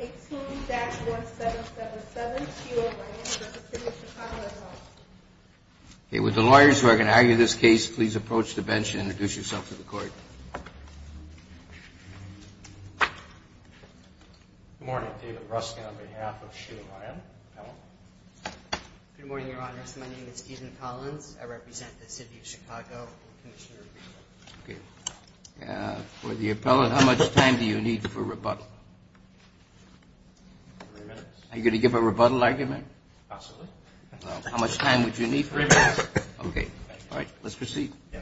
18-1777, Sheila Ryan, representing the City of Chicago. With the lawyers who are going to argue this case, please approach the bench and introduce yourselves to the court. Good morning. David Ruskin on behalf of Sheila Ryan. Good morning, Your Honors. My name is Stephen Collins. I represent the City of Chicago. For the appellate, how much time do you need for rebuttal? Are you going to give a rebuttal argument? Absolutely. How much time would you need? Three minutes. Okay. All right. Let's proceed. Yeah.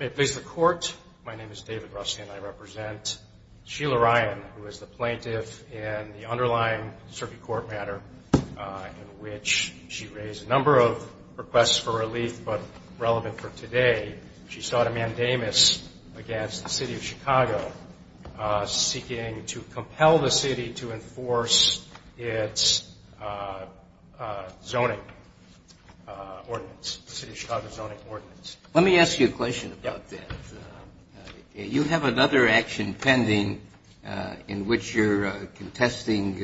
May it please the Court, my name is David Ruskin. I represent Sheila Ryan, who is the plaintiff in the underlying circuit court matter, in which she raised a number of requests for relief, but relevant for today, she sought a mandamus against the City of Chicago seeking to compel the city to enforce its zoning ordinance, the City of Chicago zoning ordinance. Let me ask you a question about that. You have another action pending in which you're contesting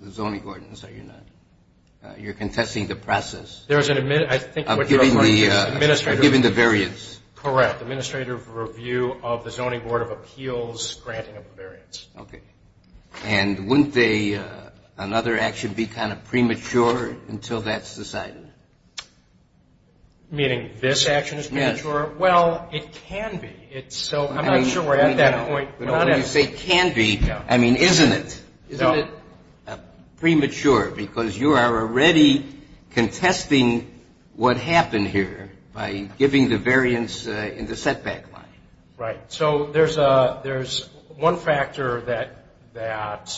the zoning ordinance, are you not? You're contesting the process of giving the variance. Correct. Administrative review of the Zoning Board of Appeals granting of the variance. Okay. And wouldn't another action be kind of premature until that's decided? Meaning this action is premature? Yes. Well, it can be. I'm not sure we're at that point. When you say can be, I mean isn't it? Isn't it premature because you are already contesting what happened here by giving the variance in the setback line? Right. So there's one factor that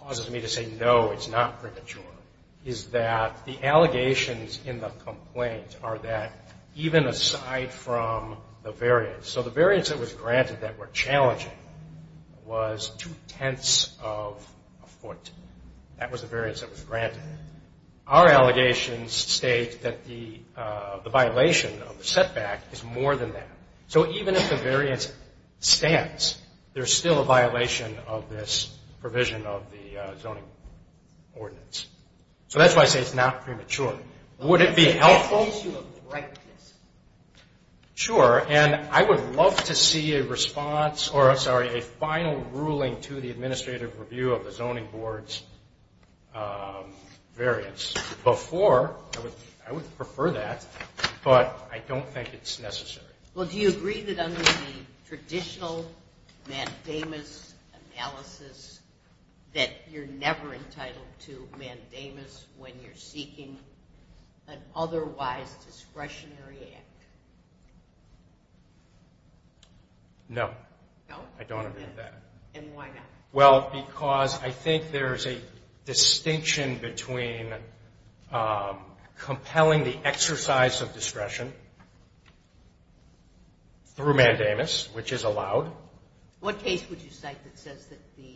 causes me to say no, it's not premature, is that the allegations in the complaint are that even aside from the variance, so the variance that was granted that we're challenging was two-tenths of a foot. That was the variance that was granted. Our allegations state that the violation of the setback is more than that. So even if the variance stands, there's still a violation of this provision of the zoning ordinance. So that's why I say it's not premature. Would it be helpful? It's an issue of directness. Sure. And I would love to see a response, or I'm sorry, a final ruling to the administrative review of the Zoning Board's variance. Before, I would prefer that, but I don't think it's necessary. Well, do you agree that under the traditional mandamus analysis that you're never entitled to mandamus when you're seeking an otherwise discretionary act? No. No? I don't agree with that. And why not? Well, because I think there's a distinction between compelling the exercise of discretion through mandamus, which is allowed. What case would you cite that says that the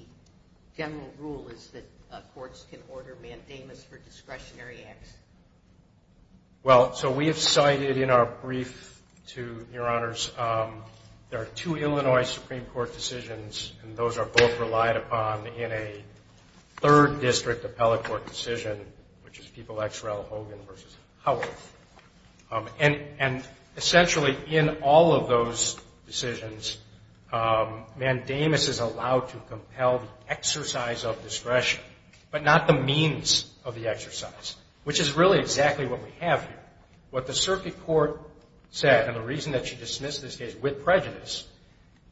general rule is that courts can order mandamus for discretionary acts? Well, so we have cited in our brief to Your Honors, there are two Illinois Supreme Court decisions, and those are both relied upon in a third district appellate court decision, which is People v. Hogan v. Howard. And essentially in all of those decisions, mandamus is allowed to compel the exercise of discretion, but not the means of the exercise, which is really exactly what we have here. What the circuit court said, and the reason that she dismissed this case with prejudice,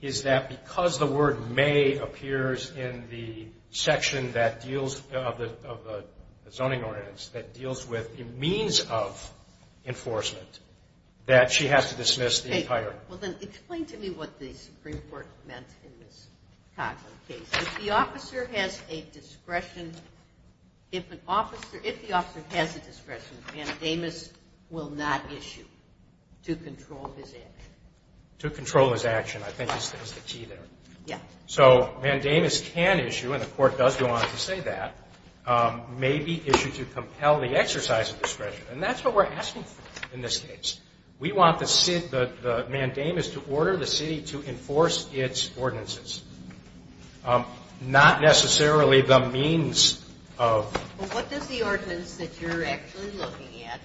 is that because the word may appears in the section of the zoning ordinance that deals with the means of enforcement, that she has to dismiss the entire. Okay. Well, then explain to me what the Supreme Court meant in this Cochran case. If the officer has a discretion, if the officer has a discretion, mandamus will not issue to control his action. To control his action, I think is the key there. Yeah. So mandamus can issue, and the court does go on to say that, may be issued to compel the exercise of discretion, and that's what we're asking for in this case. We want the mandamus to order the city to enforce its ordinances, not necessarily the means of. Well, what does the ordinance that you're actually looking at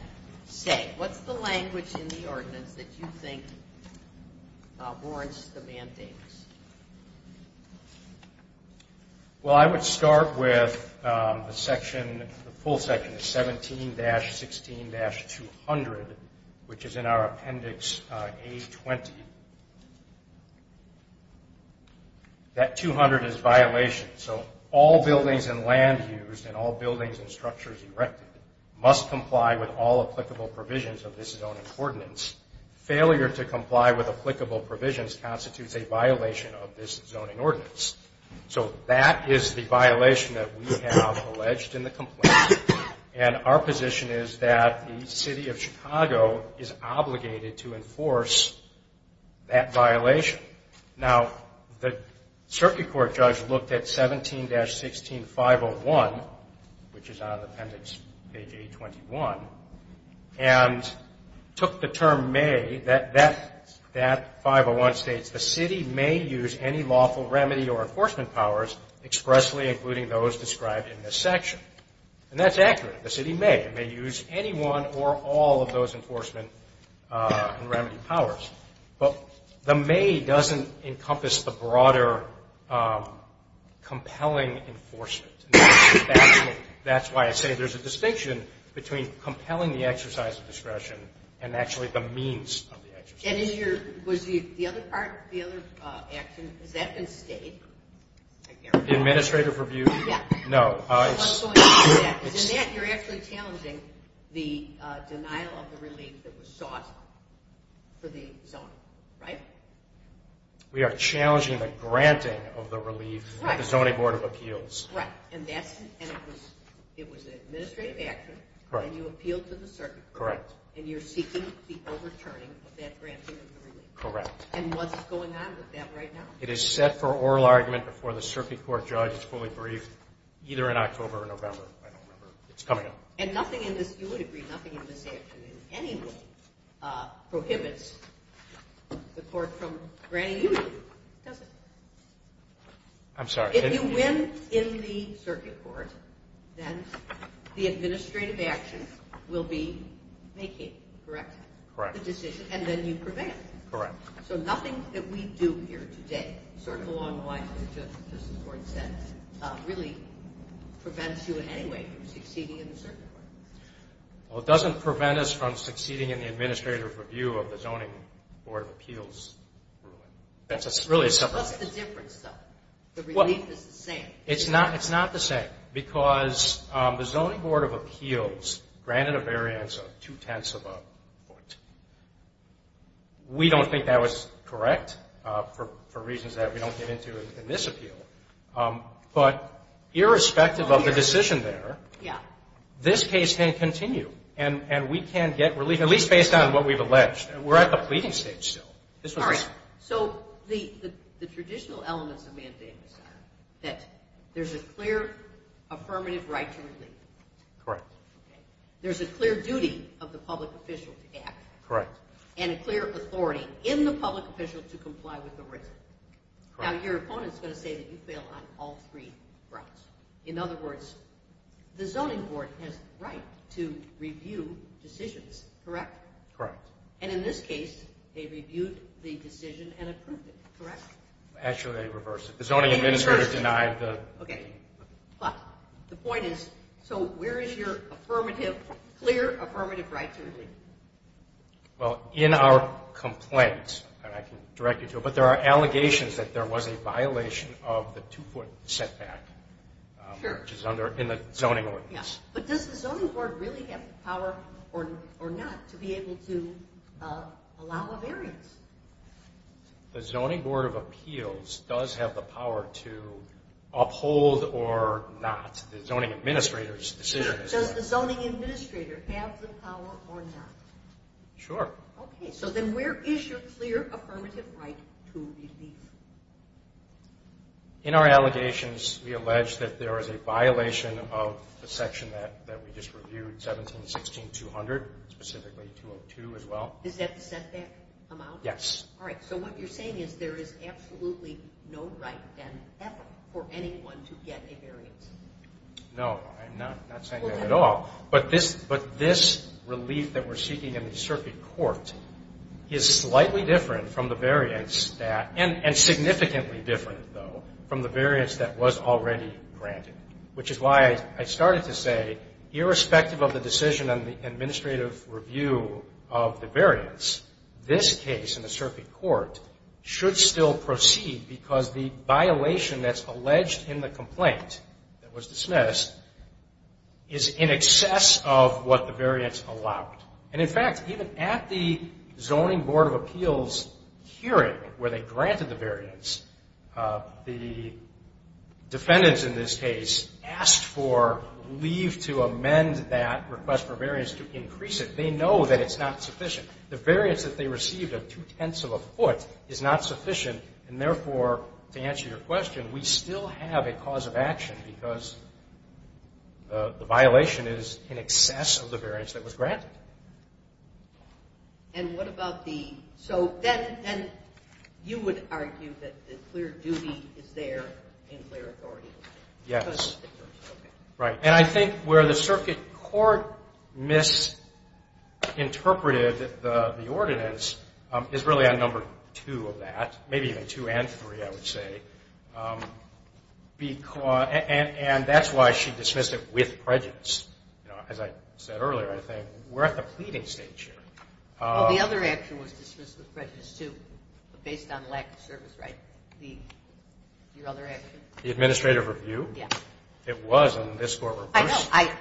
say? What's the language in the ordinance that you think warrants the mandamus? Well, I would start with the section, the full section, 17-16-200, which is in our appendix A-20. That 200 is violation, so all buildings and land used and all buildings and structures erected must comply with all applicable provisions of this zoning ordinance. Failure to comply with applicable provisions constitutes a violation of this zoning ordinance. So that is the violation that we have alleged in the complaint, and our position is that the City of Chicago is obligated to enforce that violation. Now, the circuit court judge looked at 17-16-501, which is on appendix A-21, and took the term may, that 501 states, the city may use any lawful remedy or enforcement powers expressly, including those described in this section. And that's accurate. The city may. It may use any one or all of those enforcement and remedy powers. But the may doesn't encompass the broader compelling enforcement. That's why I say there's a distinction between compelling the exercise of discretion and actually the means of the exercise. And was the other part, the other action, has that been stayed? The administrative review? Yeah. No. What's going on with that is in that you're actually challenging the denial of the relief that was sought for the zoning, right? We are challenging the granting of the relief at the Zoning Board of Appeals. Right. And it was an administrative action, and you appealed to the circuit court. Correct. And you're seeking the overturning of that granting of the relief. Correct. And what's going on with that right now? It is set for oral argument before the circuit court judge. It's fully briefed either in October or November. I don't remember. It's coming up. And nothing in this, you would agree, nothing in this action in any way prohibits the court from granting relief, does it? I'm sorry. If you win in the circuit court, then the administrative action will be making, correct? Correct. The decision, and then you prevail. Correct. So nothing that we do here today, sort of along the lines of what the Justice Board said, really prevents you in any way from succeeding in the circuit court. Well, it doesn't prevent us from succeeding in the administrative review of the Zoning Board of Appeals. That's really a separate issue. What's the difference, though? The relief is the same. It's not the same because the Zoning Board of Appeals granted a variance of two-tenths of a foot. We don't think that was correct for reasons that we don't get into in this appeal. But irrespective of the decision there, this case can continue, and we can get relief, at least based on what we've alleged. We're at the pleading stage still. All right. So the traditional elements of mandamus are that there's a clear affirmative right to relief. Correct. There's a clear duty of the public official to act. Correct. And a clear authority in the public official to comply with the written. Correct. Now, your opponent's going to say that you fail on all three grounds. In other words, the Zoning Board has the right to review decisions, correct? Correct. And in this case, they reviewed the decision and approved it, correct? Actually, they reversed it. The Zoning Administrator denied the… Okay. But the point is, so where is your affirmative, clear affirmative right to relief? Well, in our complaint, and I can direct you to it, but there are allegations that there was a violation of the two-foot setback, which is in the Zoning Ordinance. But does the Zoning Board really have the power or not to be able to allow a variance? The Zoning Board of Appeals does have the power to uphold or not. The Zoning Administrator's decision is that. Does the Zoning Administrator have the power or not? Sure. Okay. So then where is your clear affirmative right to relief? In our allegations, we allege that there is a violation of the section that we just reviewed, 1716-200, specifically 202 as well. Is that the setback amount? Yes. All right. So what you're saying is there is absolutely no right then ever for anyone to get a variance. No. I'm not saying that at all. But this relief that we're seeking in the circuit court is slightly different from the variance, and significantly different, though, from the variance that was already granted, which is why I started to say, irrespective of the decision on the administrative review of the variance, this case in the circuit court should still proceed because the violation that's alleged in the complaint that was dismissed is in excess of what the variance allowed. And, in fact, even at the Zoning Board of Appeals hearing where they granted the variance, the defendants in this case asked for leave to amend that request for variance to increase it. They know that it's not sufficient. The variance that they received of two-tenths of a foot is not sufficient, and therefore, to answer your question, we still have a cause of action because the violation is in excess of the variance that was granted. And what about the so then you would argue that the clear duty is there in clear authority? Yes. Okay. Right. And I think where the circuit court misinterpreted the ordinance is really on number two of that, maybe even two and three, I would say, and that's why she dismissed it with prejudice. As I said earlier, I think we're at the pleading stage here. Well, the other action was dismissed with prejudice, too, but based on lack of service, right? The other action? The administrative review? Yes. It was in this court. I know.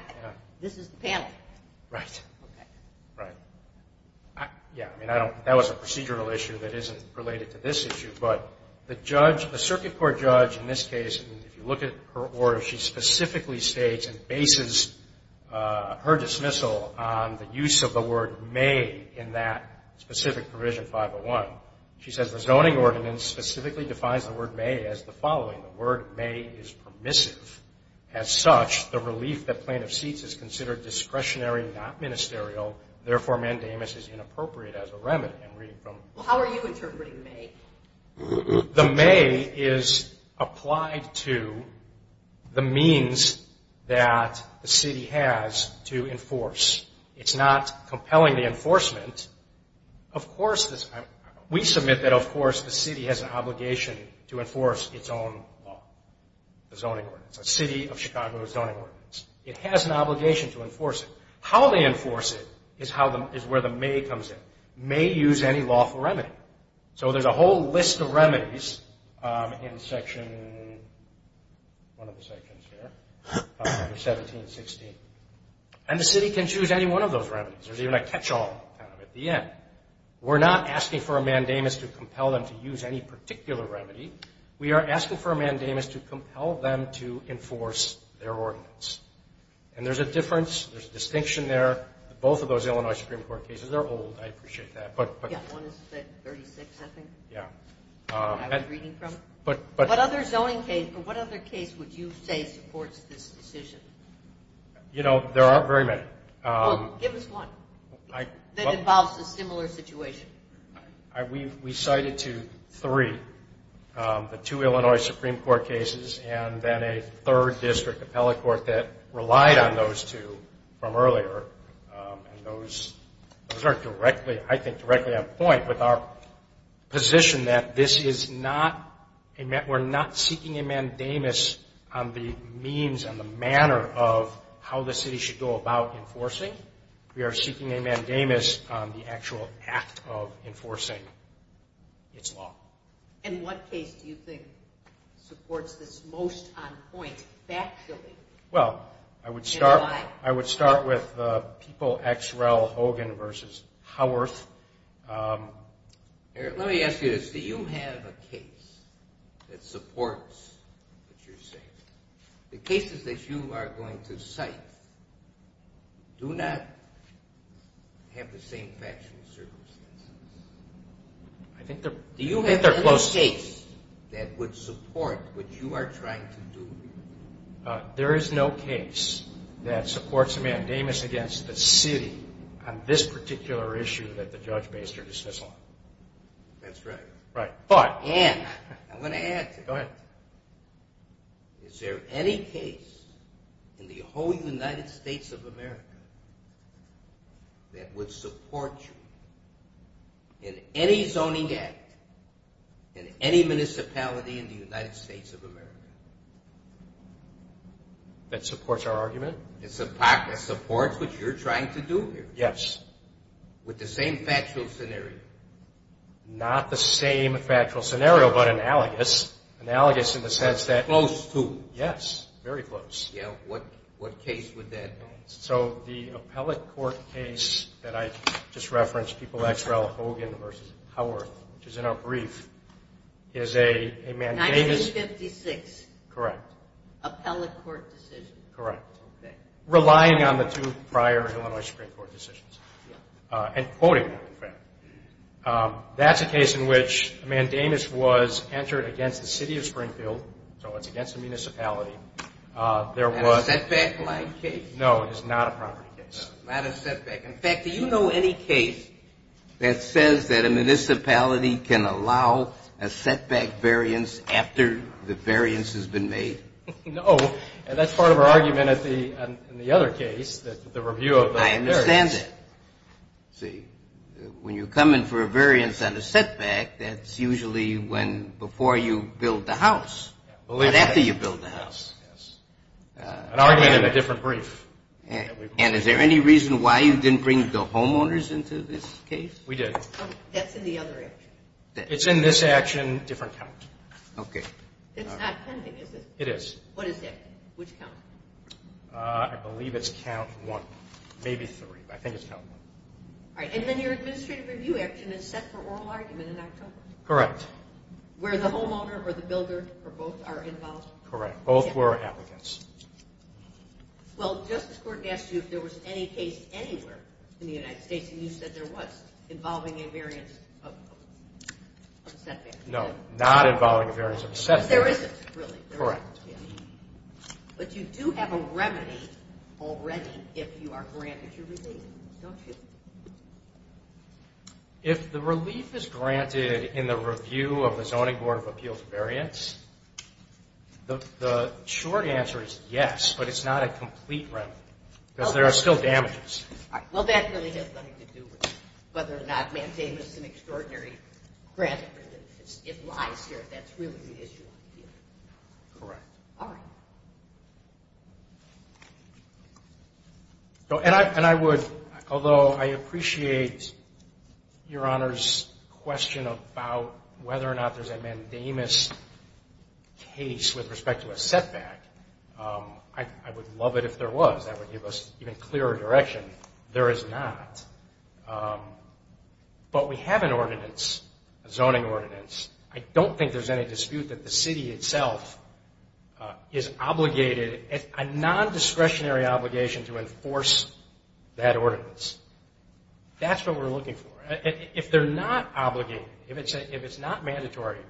This is the panel. Right. Okay. Right. Yeah, I mean, that was a procedural issue that isn't related to this issue, but the circuit court judge in this case, if you look at her order, she specifically states and bases her dismissal on the use of the word may in that specific provision 501. She says the zoning ordinance specifically defines the word may as the following. The word may is permissive. As such, the relief that plaintiff seeks is considered discretionary, not ministerial. Therefore, mandamus is inappropriate as a remedy. Well, how are you interpreting may? The may is applied to the means that the city has to enforce. It's not compelling the enforcement. Of course, we submit that, of course, the city has an obligation to enforce its own law, the zoning ordinance. A city of Chicago zoning ordinance. It has an obligation to enforce it. How they enforce it is where the may comes in. May use any lawful remedy. So there's a whole list of remedies in Section 1716, and the city can choose any one of those remedies. There's even a catch-all kind of at the end. We're not asking for a mandamus to compel them to use any particular remedy. We are asking for a mandamus to compel them to enforce their ordinance. And there's a difference. There's a distinction there. Both of those Illinois Supreme Court cases are old. I appreciate that. Yeah, one is, like, 36, I think. Yeah. I was reading from it. What other zoning case or what other case would you say supports this decision? You know, there aren't very many. Well, give us one that involves a similar situation. We cited two, three, the two Illinois Supreme Court cases and then a third district appellate court that relied on those two from earlier. And those are, I think, directly on point with our position that this is not, we're not seeking a mandamus on the means and the manner of how the city should go about enforcing. We are seeking a mandamus on the actual act of enforcing its law. And what case do you think supports this most on point factually? Well, I would start with the People X. Rel. Hogan v. Howarth. Let me ask you this. Do you have a case that supports what you're saying? The cases that you are going to cite do not have the same factual circumstances. Do you have a case that would support what you are trying to do? There is no case that supports a mandamus against the city on this particular issue that the judge based her dismissal on. That's right. And I'm going to add to that. Is there any case in the whole United States of America that would support you in any zoning act in any municipality in the United States of America? That supports our argument? That supports what you're trying to do here? Yes. With the same factual scenario? Not the same factual scenario, but analogous, analogous in the sense that... Close to? Yes, very close. What case would that be? So the appellate court case that I just referenced, People X. Rel. Hogan v. Howarth, which is in our brief, is a mandamus... 1956? Correct. Appellate court decision? Correct. Okay. Depending on the two prior Illinois Supreme Court decisions. And quoting them, in fact. That's a case in which a mandamus was entered against the city of Springfield, so it's against a municipality. Is that a setback-like case? No, it is not a property case. Not a setback. In fact, do you know any case that says that a municipality can allow a setback variance after the variance has been made? No, and that's part of our argument in the other case, the review of the variance. I understand that. See, when you come in for a variance on a setback, that's usually before you build the house. Not after you build the house. An argument in a different brief. And is there any reason why you didn't bring the homeowners into this case? We did. That's in the other action. It's in this action, different count. Okay. It's not pending, is it? It is. What is that? Which count? I believe it's count one, maybe three. I think it's count one. All right. And then your administrative review action is set for oral argument in October? Correct. Where the homeowner or the builder or both are involved? Correct. Both were applicants. Well, the Justice Court asked you if there was any case anywhere in the United States, and you said there was, involving a variance of a setback. No, not involving a variance of a setback. There isn't, really. Correct. But you do have a remedy already if you are granted your relief, don't you? If the relief is granted in the review of the Zoning Board of Appeals variance, the short answer is yes, but it's not a complete remedy because there are still damages. All right. Well, that really has nothing to do with whether or not mandamus is an extraordinary grant. It lies here. That's really the issue here. Correct. All right. And I would, although I appreciate Your Honor's question about whether or not there's a mandamus case with respect to a setback, I would love it if there was. That would give us even clearer direction. There is not. But we have an ordinance, a zoning ordinance. I don't think there's any dispute that the city itself is obligated, a non-discretionary obligation to enforce that ordinance. That's what we're looking for. If they're not obligated, if it's not mandatory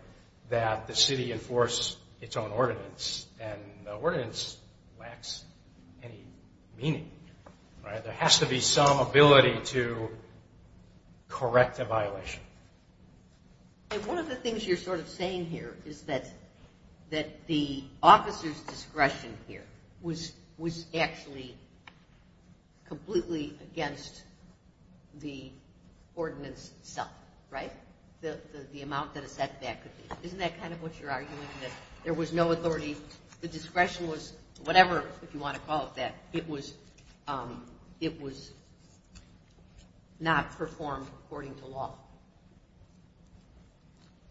that the city enforce its own ordinance, then the ordinance lacks any meaning. There has to be some ability to correct a violation. One of the things you're sort of saying here is that the officer's discretion here was actually completely against the ordinance itself, right, the amount that a setback could be. Isn't that kind of what you're arguing, that there was no authority, the discretion was whatever, if you want to call it that, it was not performed according to law?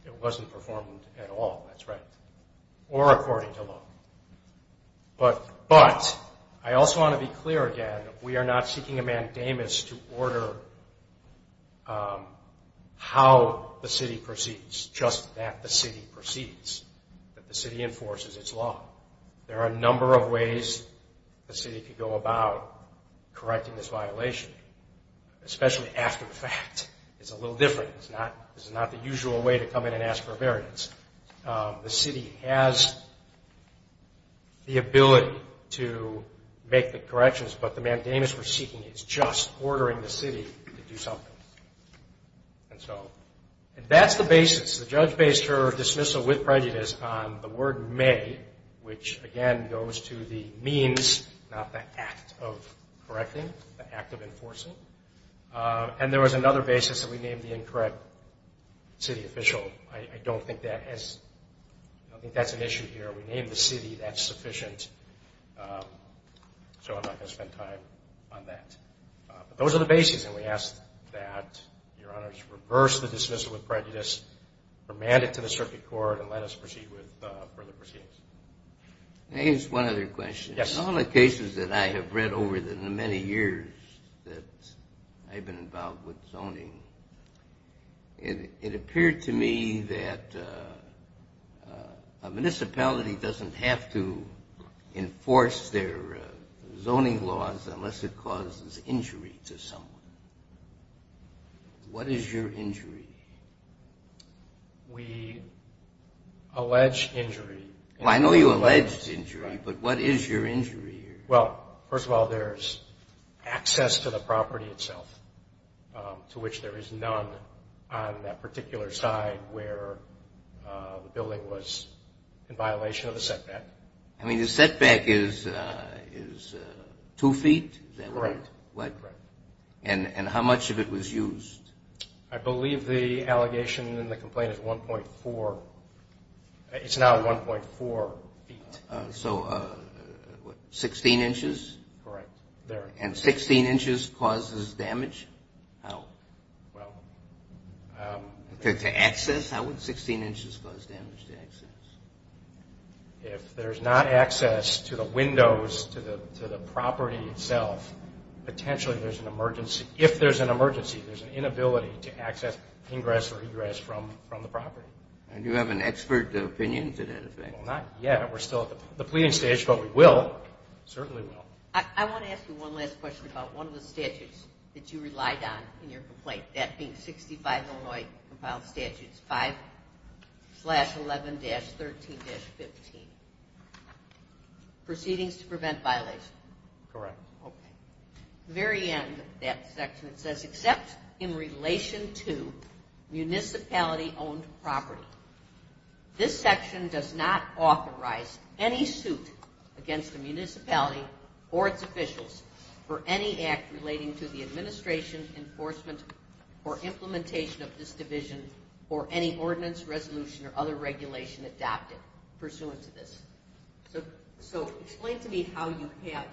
It wasn't performed at all, that's right, or according to law. But I also want to be clear again, we are not seeking a mandamus to order how the city proceeds, it's just that the city proceeds, that the city enforces its law. There are a number of ways the city could go about correcting this violation, especially after the fact. It's a little different, it's not the usual way to come in and ask for a variance. The city has the ability to make the corrections, but the mandamus we're seeking is just ordering the city to do something. And so that's the basis, the judge based her dismissal with prejudice on the word may, which again goes to the means, not the act of correcting, the act of enforcing. And there was another basis that we named the incorrect city official. I don't think that's an issue here, we named the city, that's sufficient, so I'm not going to spend time on that. But those are the basis, and we ask that Your Honors reverse the dismissal with prejudice, remand it to the circuit court, and let us proceed with further proceedings. I have just one other question. In all the cases that I have read over the many years that I've been involved with zoning, it appeared to me that a municipality doesn't have to enforce their zoning laws unless it causes injury to someone. What is your injury? We allege injury. Well, I know you allege injury, but what is your injury? Well, first of all, there's access to the property itself, to which there is none on that particular side where the building was in violation of the setback. I mean, the setback is 2 feet, is that right? Right. And how much of it was used? I believe the allegation in the complaint is 1.4. It's now 1.4 feet. So 16 inches? Correct, there. And 16 inches causes damage? Well. To access? How would 16 inches cause damage to access? If there's not access to the windows, to the property itself, potentially there's an emergency. If there's an emergency, there's an inability to access ingress or egress from the property. And do you have an expert opinion to that effect? Well, not yet. We're still at the pleading stage, but we will, certainly will. I want to ask you one last question about one of the statutes that you relied on in your complaint, that being 65 Illinois Compiled Statutes 5-11-13-15, Proceedings to Prevent Violation. Correct. Okay. The very end of that section, it says, except in relation to municipality-owned property, this section does not authorize any suit against the municipality or its officials for any act relating to the administration, enforcement, or implementation of this division or any ordinance, resolution, or other regulation adopted pursuant to this. So explain to me how you have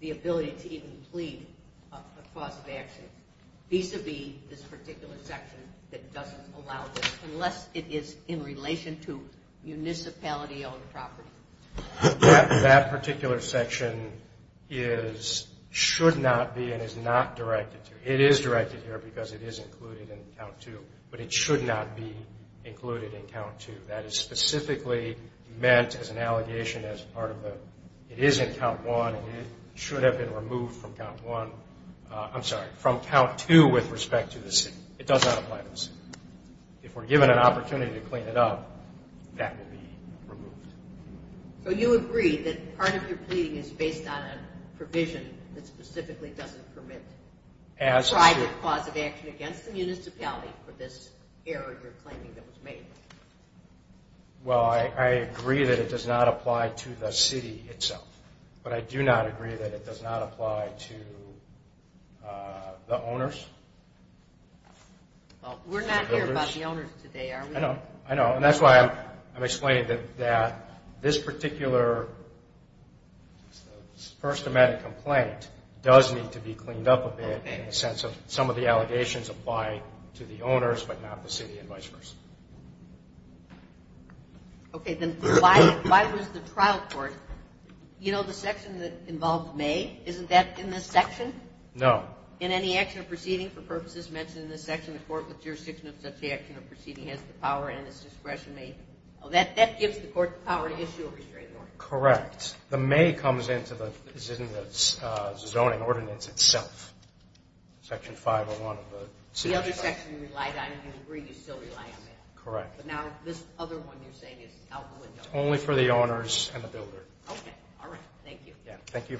the ability to even plead a cause of action vis-a-vis this particular section that doesn't allow this, unless it is in relation to municipality-owned property. That particular section is, should not be, and is not directed to, it is directed here because it is included in Count 2, but it should not be included in Count 2. That is specifically meant as an allegation as part of the, it is in Count 1 and it should have been removed from Count 1, I'm sorry, from Count 2 with respect to the city. It does not apply to the city. If we're given an opportunity to clean it up, that will be removed. So you agree that part of your pleading is based on a provision that specifically doesn't permit private cause of action against the municipality for this error you're claiming that was made? Well, I agree that it does not apply to the city itself, but I do not agree that it does not apply to the owners. Well, we're not here about the owners today, are we? I know. And that's why I'm explaining that this particular first-amendment complaint does need to be cleaned up a bit in the sense of some of the allegations apply to the owners but not the city and vice versa. Okay. Then why was the trial court, you know, the section that involved May, isn't that in this section? No. In any action or proceeding for purposes mentioned in this section, the court with jurisdiction of such action or proceeding has the power and its discretion to make? That gives the court the power to issue a restraining order. Correct. The May comes into the zoning ordinance itself, Section 501 of the City of Chicago. The other section you relied on, you agree you still rely on that. Correct. But now this other one you're saying is out the window. Only for the owners and the builder. Okay. All right. Thank you. Thank you. Thank you.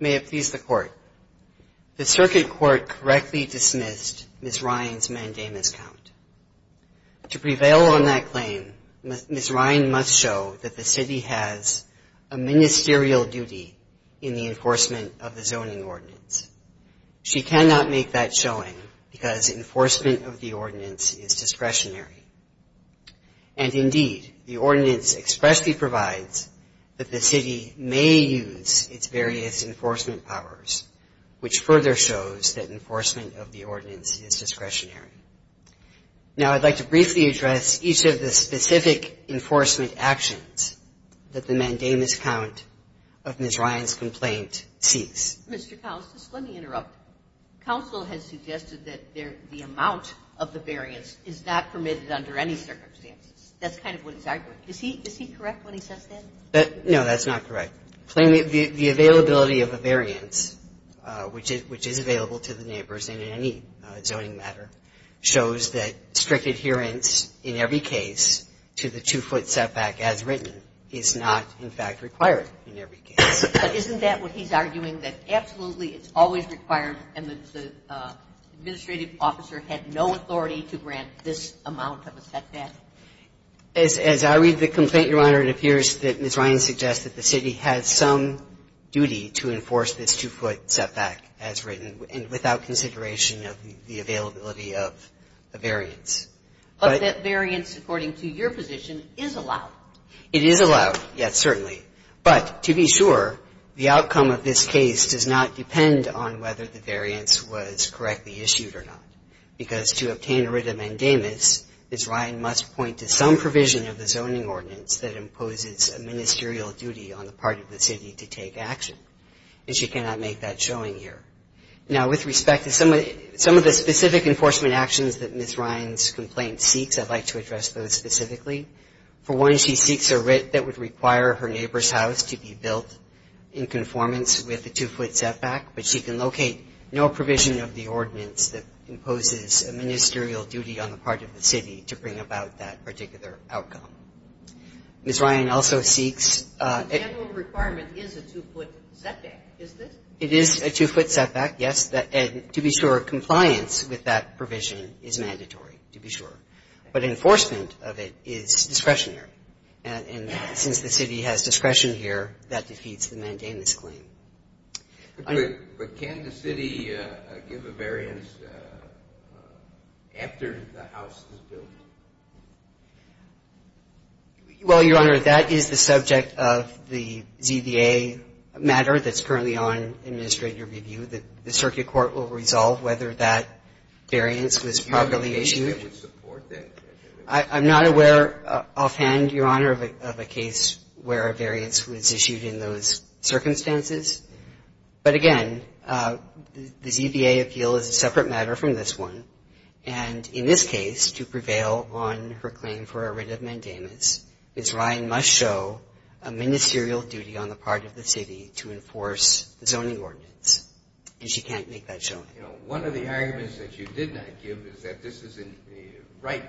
May it please the Court. The circuit court correctly dismissed Ms. Ryan's mandamus count. To prevail on that claim, Ms. Ryan must show that the city has a ministerial duty in the enforcement of the zoning ordinance. She cannot make that showing because enforcement of the ordinance is discretionary. And indeed, the ordinance expressly provides that the city may use its various enforcement powers, which further shows that enforcement of the ordinance is discretionary. Now, I'd like to briefly address each of the specific enforcement actions that the mandamus count of Ms. Ryan's complaint seeks. Mr. Cousins, let me interrupt. Counsel has suggested that the amount of the variance is not permitted under any circumstances. That's kind of what he's arguing. Is he correct when he says that? No, that's not correct. The availability of a variance, which is available to the neighbors in any zoning matter, shows that strict adherence in every case to the two-foot setback as written is not, in fact, required in every case. But isn't that what he's arguing, that absolutely it's always required and that the administrative officer had no authority to grant this amount of a setback? As I read the complaint, Your Honor, it appears that Ms. Ryan suggests that the city has some duty to enforce this two-foot setback as written and without consideration of the availability of a variance. But that variance, according to your position, is allowed. It is allowed, yes, certainly. But to be sure, the outcome of this case does not depend on whether the variance was correctly issued or not, because to obtain a written mandamus, Ms. Ryan must point to some provision of the zoning ordinance that imposes a ministerial duty on the part of the city to take action. And she cannot make that showing here. Now, with respect to some of the specific enforcement actions that Ms. Ryan's complaint seeks, I'd like to address those specifically. For one, she seeks a writ that would require her neighbor's house to be built in conformance with the two-foot setback, but she can locate no provision of the that particular outcome. Ms. Ryan also seeks a The general requirement is a two-foot setback, is this? It is a two-foot setback, yes. And to be sure, compliance with that provision is mandatory, to be sure. But enforcement of it is discretionary. And since the city has discretion here, that defeats the mandamus claim. But can the city give a variance after the house is built? Well, Your Honor, that is the subject of the ZVA matter that's currently on administrative review. The circuit court will resolve whether that variance was properly issued. Do you have a case that would support that? I'm not aware offhand, Your Honor, of a case where a variance was issued in those circumstances. But again, the ZVA appeal is a separate matter from this one. And in this case, to prevail on her claim for a writ of mandamus, Ms. Ryan must show a ministerial duty on the part of the city to enforce the zoning ordinance. And she can't make that showing. One of the arguments that you did not give is that this isn't right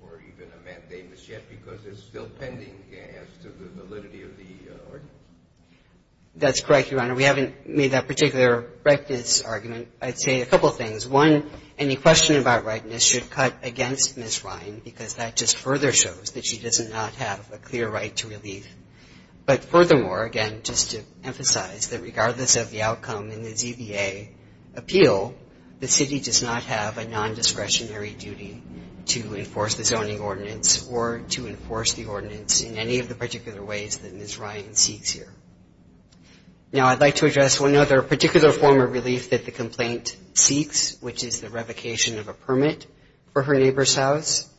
for even a mandamus yet because it's still pending as to the validity of the ordinance. That's correct, Your Honor. We haven't made that particular rightness argument. I'd say a couple of things. One, any question about rightness should cut against Ms. Ryan because that just further shows that she does not have a clear right to relief. But furthermore, again, just to emphasize that regardless of the outcome in the ZVA appeal, the city does not have a nondiscretionary duty to enforce the zoning ordinance or to enforce the ordinance in any of the particular ways that Ms. Ryan seeks here. Now, I'd like to address one other particular form of relief that the complaint seeks, which is the revocation of a permit for her neighbor's house.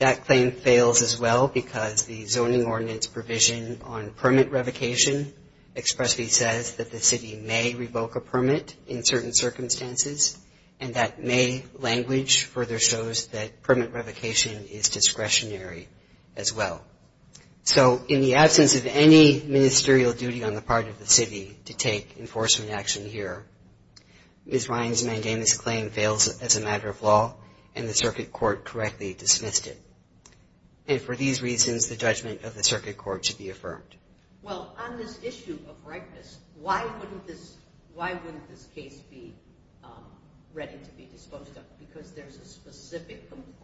That claim fails as well because the zoning ordinance provision on permit revocation expressly says that the city may revoke a permit in certain circumstances, and that may language further shows that permit revocation is discretionary as well. So in the absence of any ministerial duty on the part of the city to take enforcement action here, Ms. Ryan's mandamus claim fails as a matter of law, and the circuit court correctly dismissed it. And for these reasons, the judgment of the circuit court should be affirmed. Well, on this issue of rightness, why wouldn't this case be ready to be disposed of? Because there's a specific complaint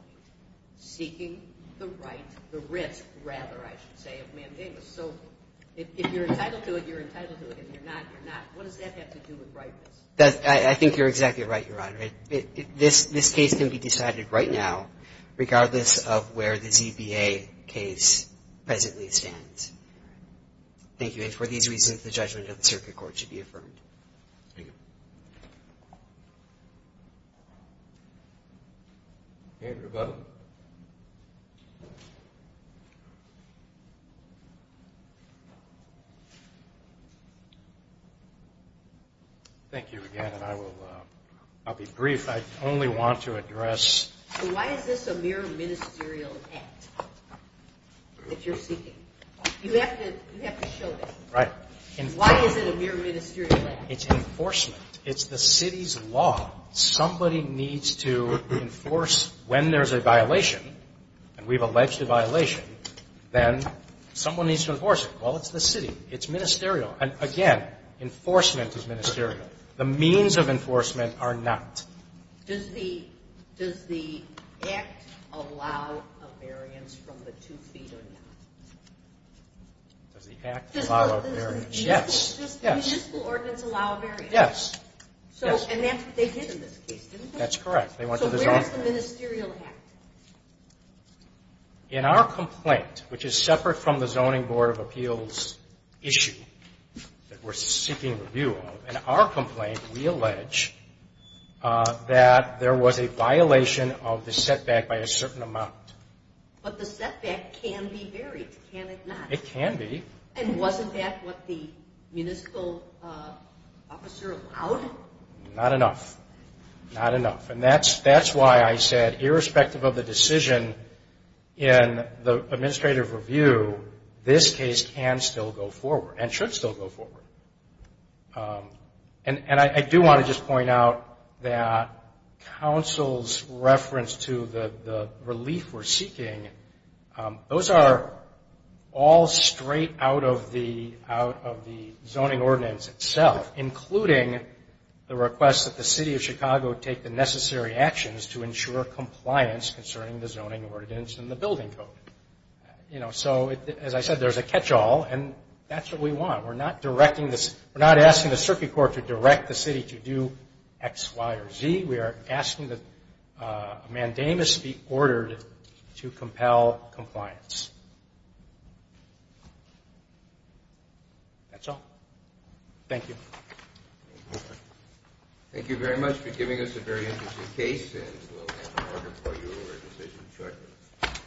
seeking the right, the risk, rather, I should say, of mandamus. So if you're entitled to it, you're entitled to it. If you're not, you're not. What does that have to do with rightness? I think you're exactly right, Your Honor. This case can be decided right now regardless of where the ZBA case presently stands. Thank you. And for these reasons, the judgment of the circuit court should be affirmed. Thank you. Andrew Butler. Thank you again. And I'll be brief. I only want to address. Why is this a mere ministerial act that you're seeking? You have to show that. Right. Why is it a mere ministerial act? It's enforcement. It's the city's law. Somebody needs to enforce when there's a violation, and we've alleged a violation, then someone needs to enforce it. Well, it's the city. It's ministerial. And, again, enforcement is ministerial. The means of enforcement are not. Does the Act allow a variance from the two feet or not? Does the Act allow a variance? Yes. Municipal ordinance allow a variance. Yes. And that's what they did in this case, didn't they? That's correct. So where is the ministerial act? In our complaint, which is separate from the Zoning Board of Appeals issue that we're seeking review of, in our complaint we allege that there was a violation of the setback by a certain amount. But the setback can be varied, can it not? It can be. And wasn't that what the municipal officer allowed? Not enough. Not enough. And that's why I said, irrespective of the decision in the administrative review, this case can still go forward and should still go forward. And I do want to just point out that counsel's reference to the relief we're seeking, those are all straight out of the zoning ordinance itself, including the request that the city of Chicago take the necessary actions to ensure compliance concerning the zoning ordinance and the building code. So, as I said, there's a catch-all, and that's what we want. We're not asking the circuit court to direct the city to do X, Y, or Z. We are asking that a mandamus be ordered to compel compliance. That's all. Thank you. Thank you very much for giving us a very interesting case, and we'll look forward to your decision shortly.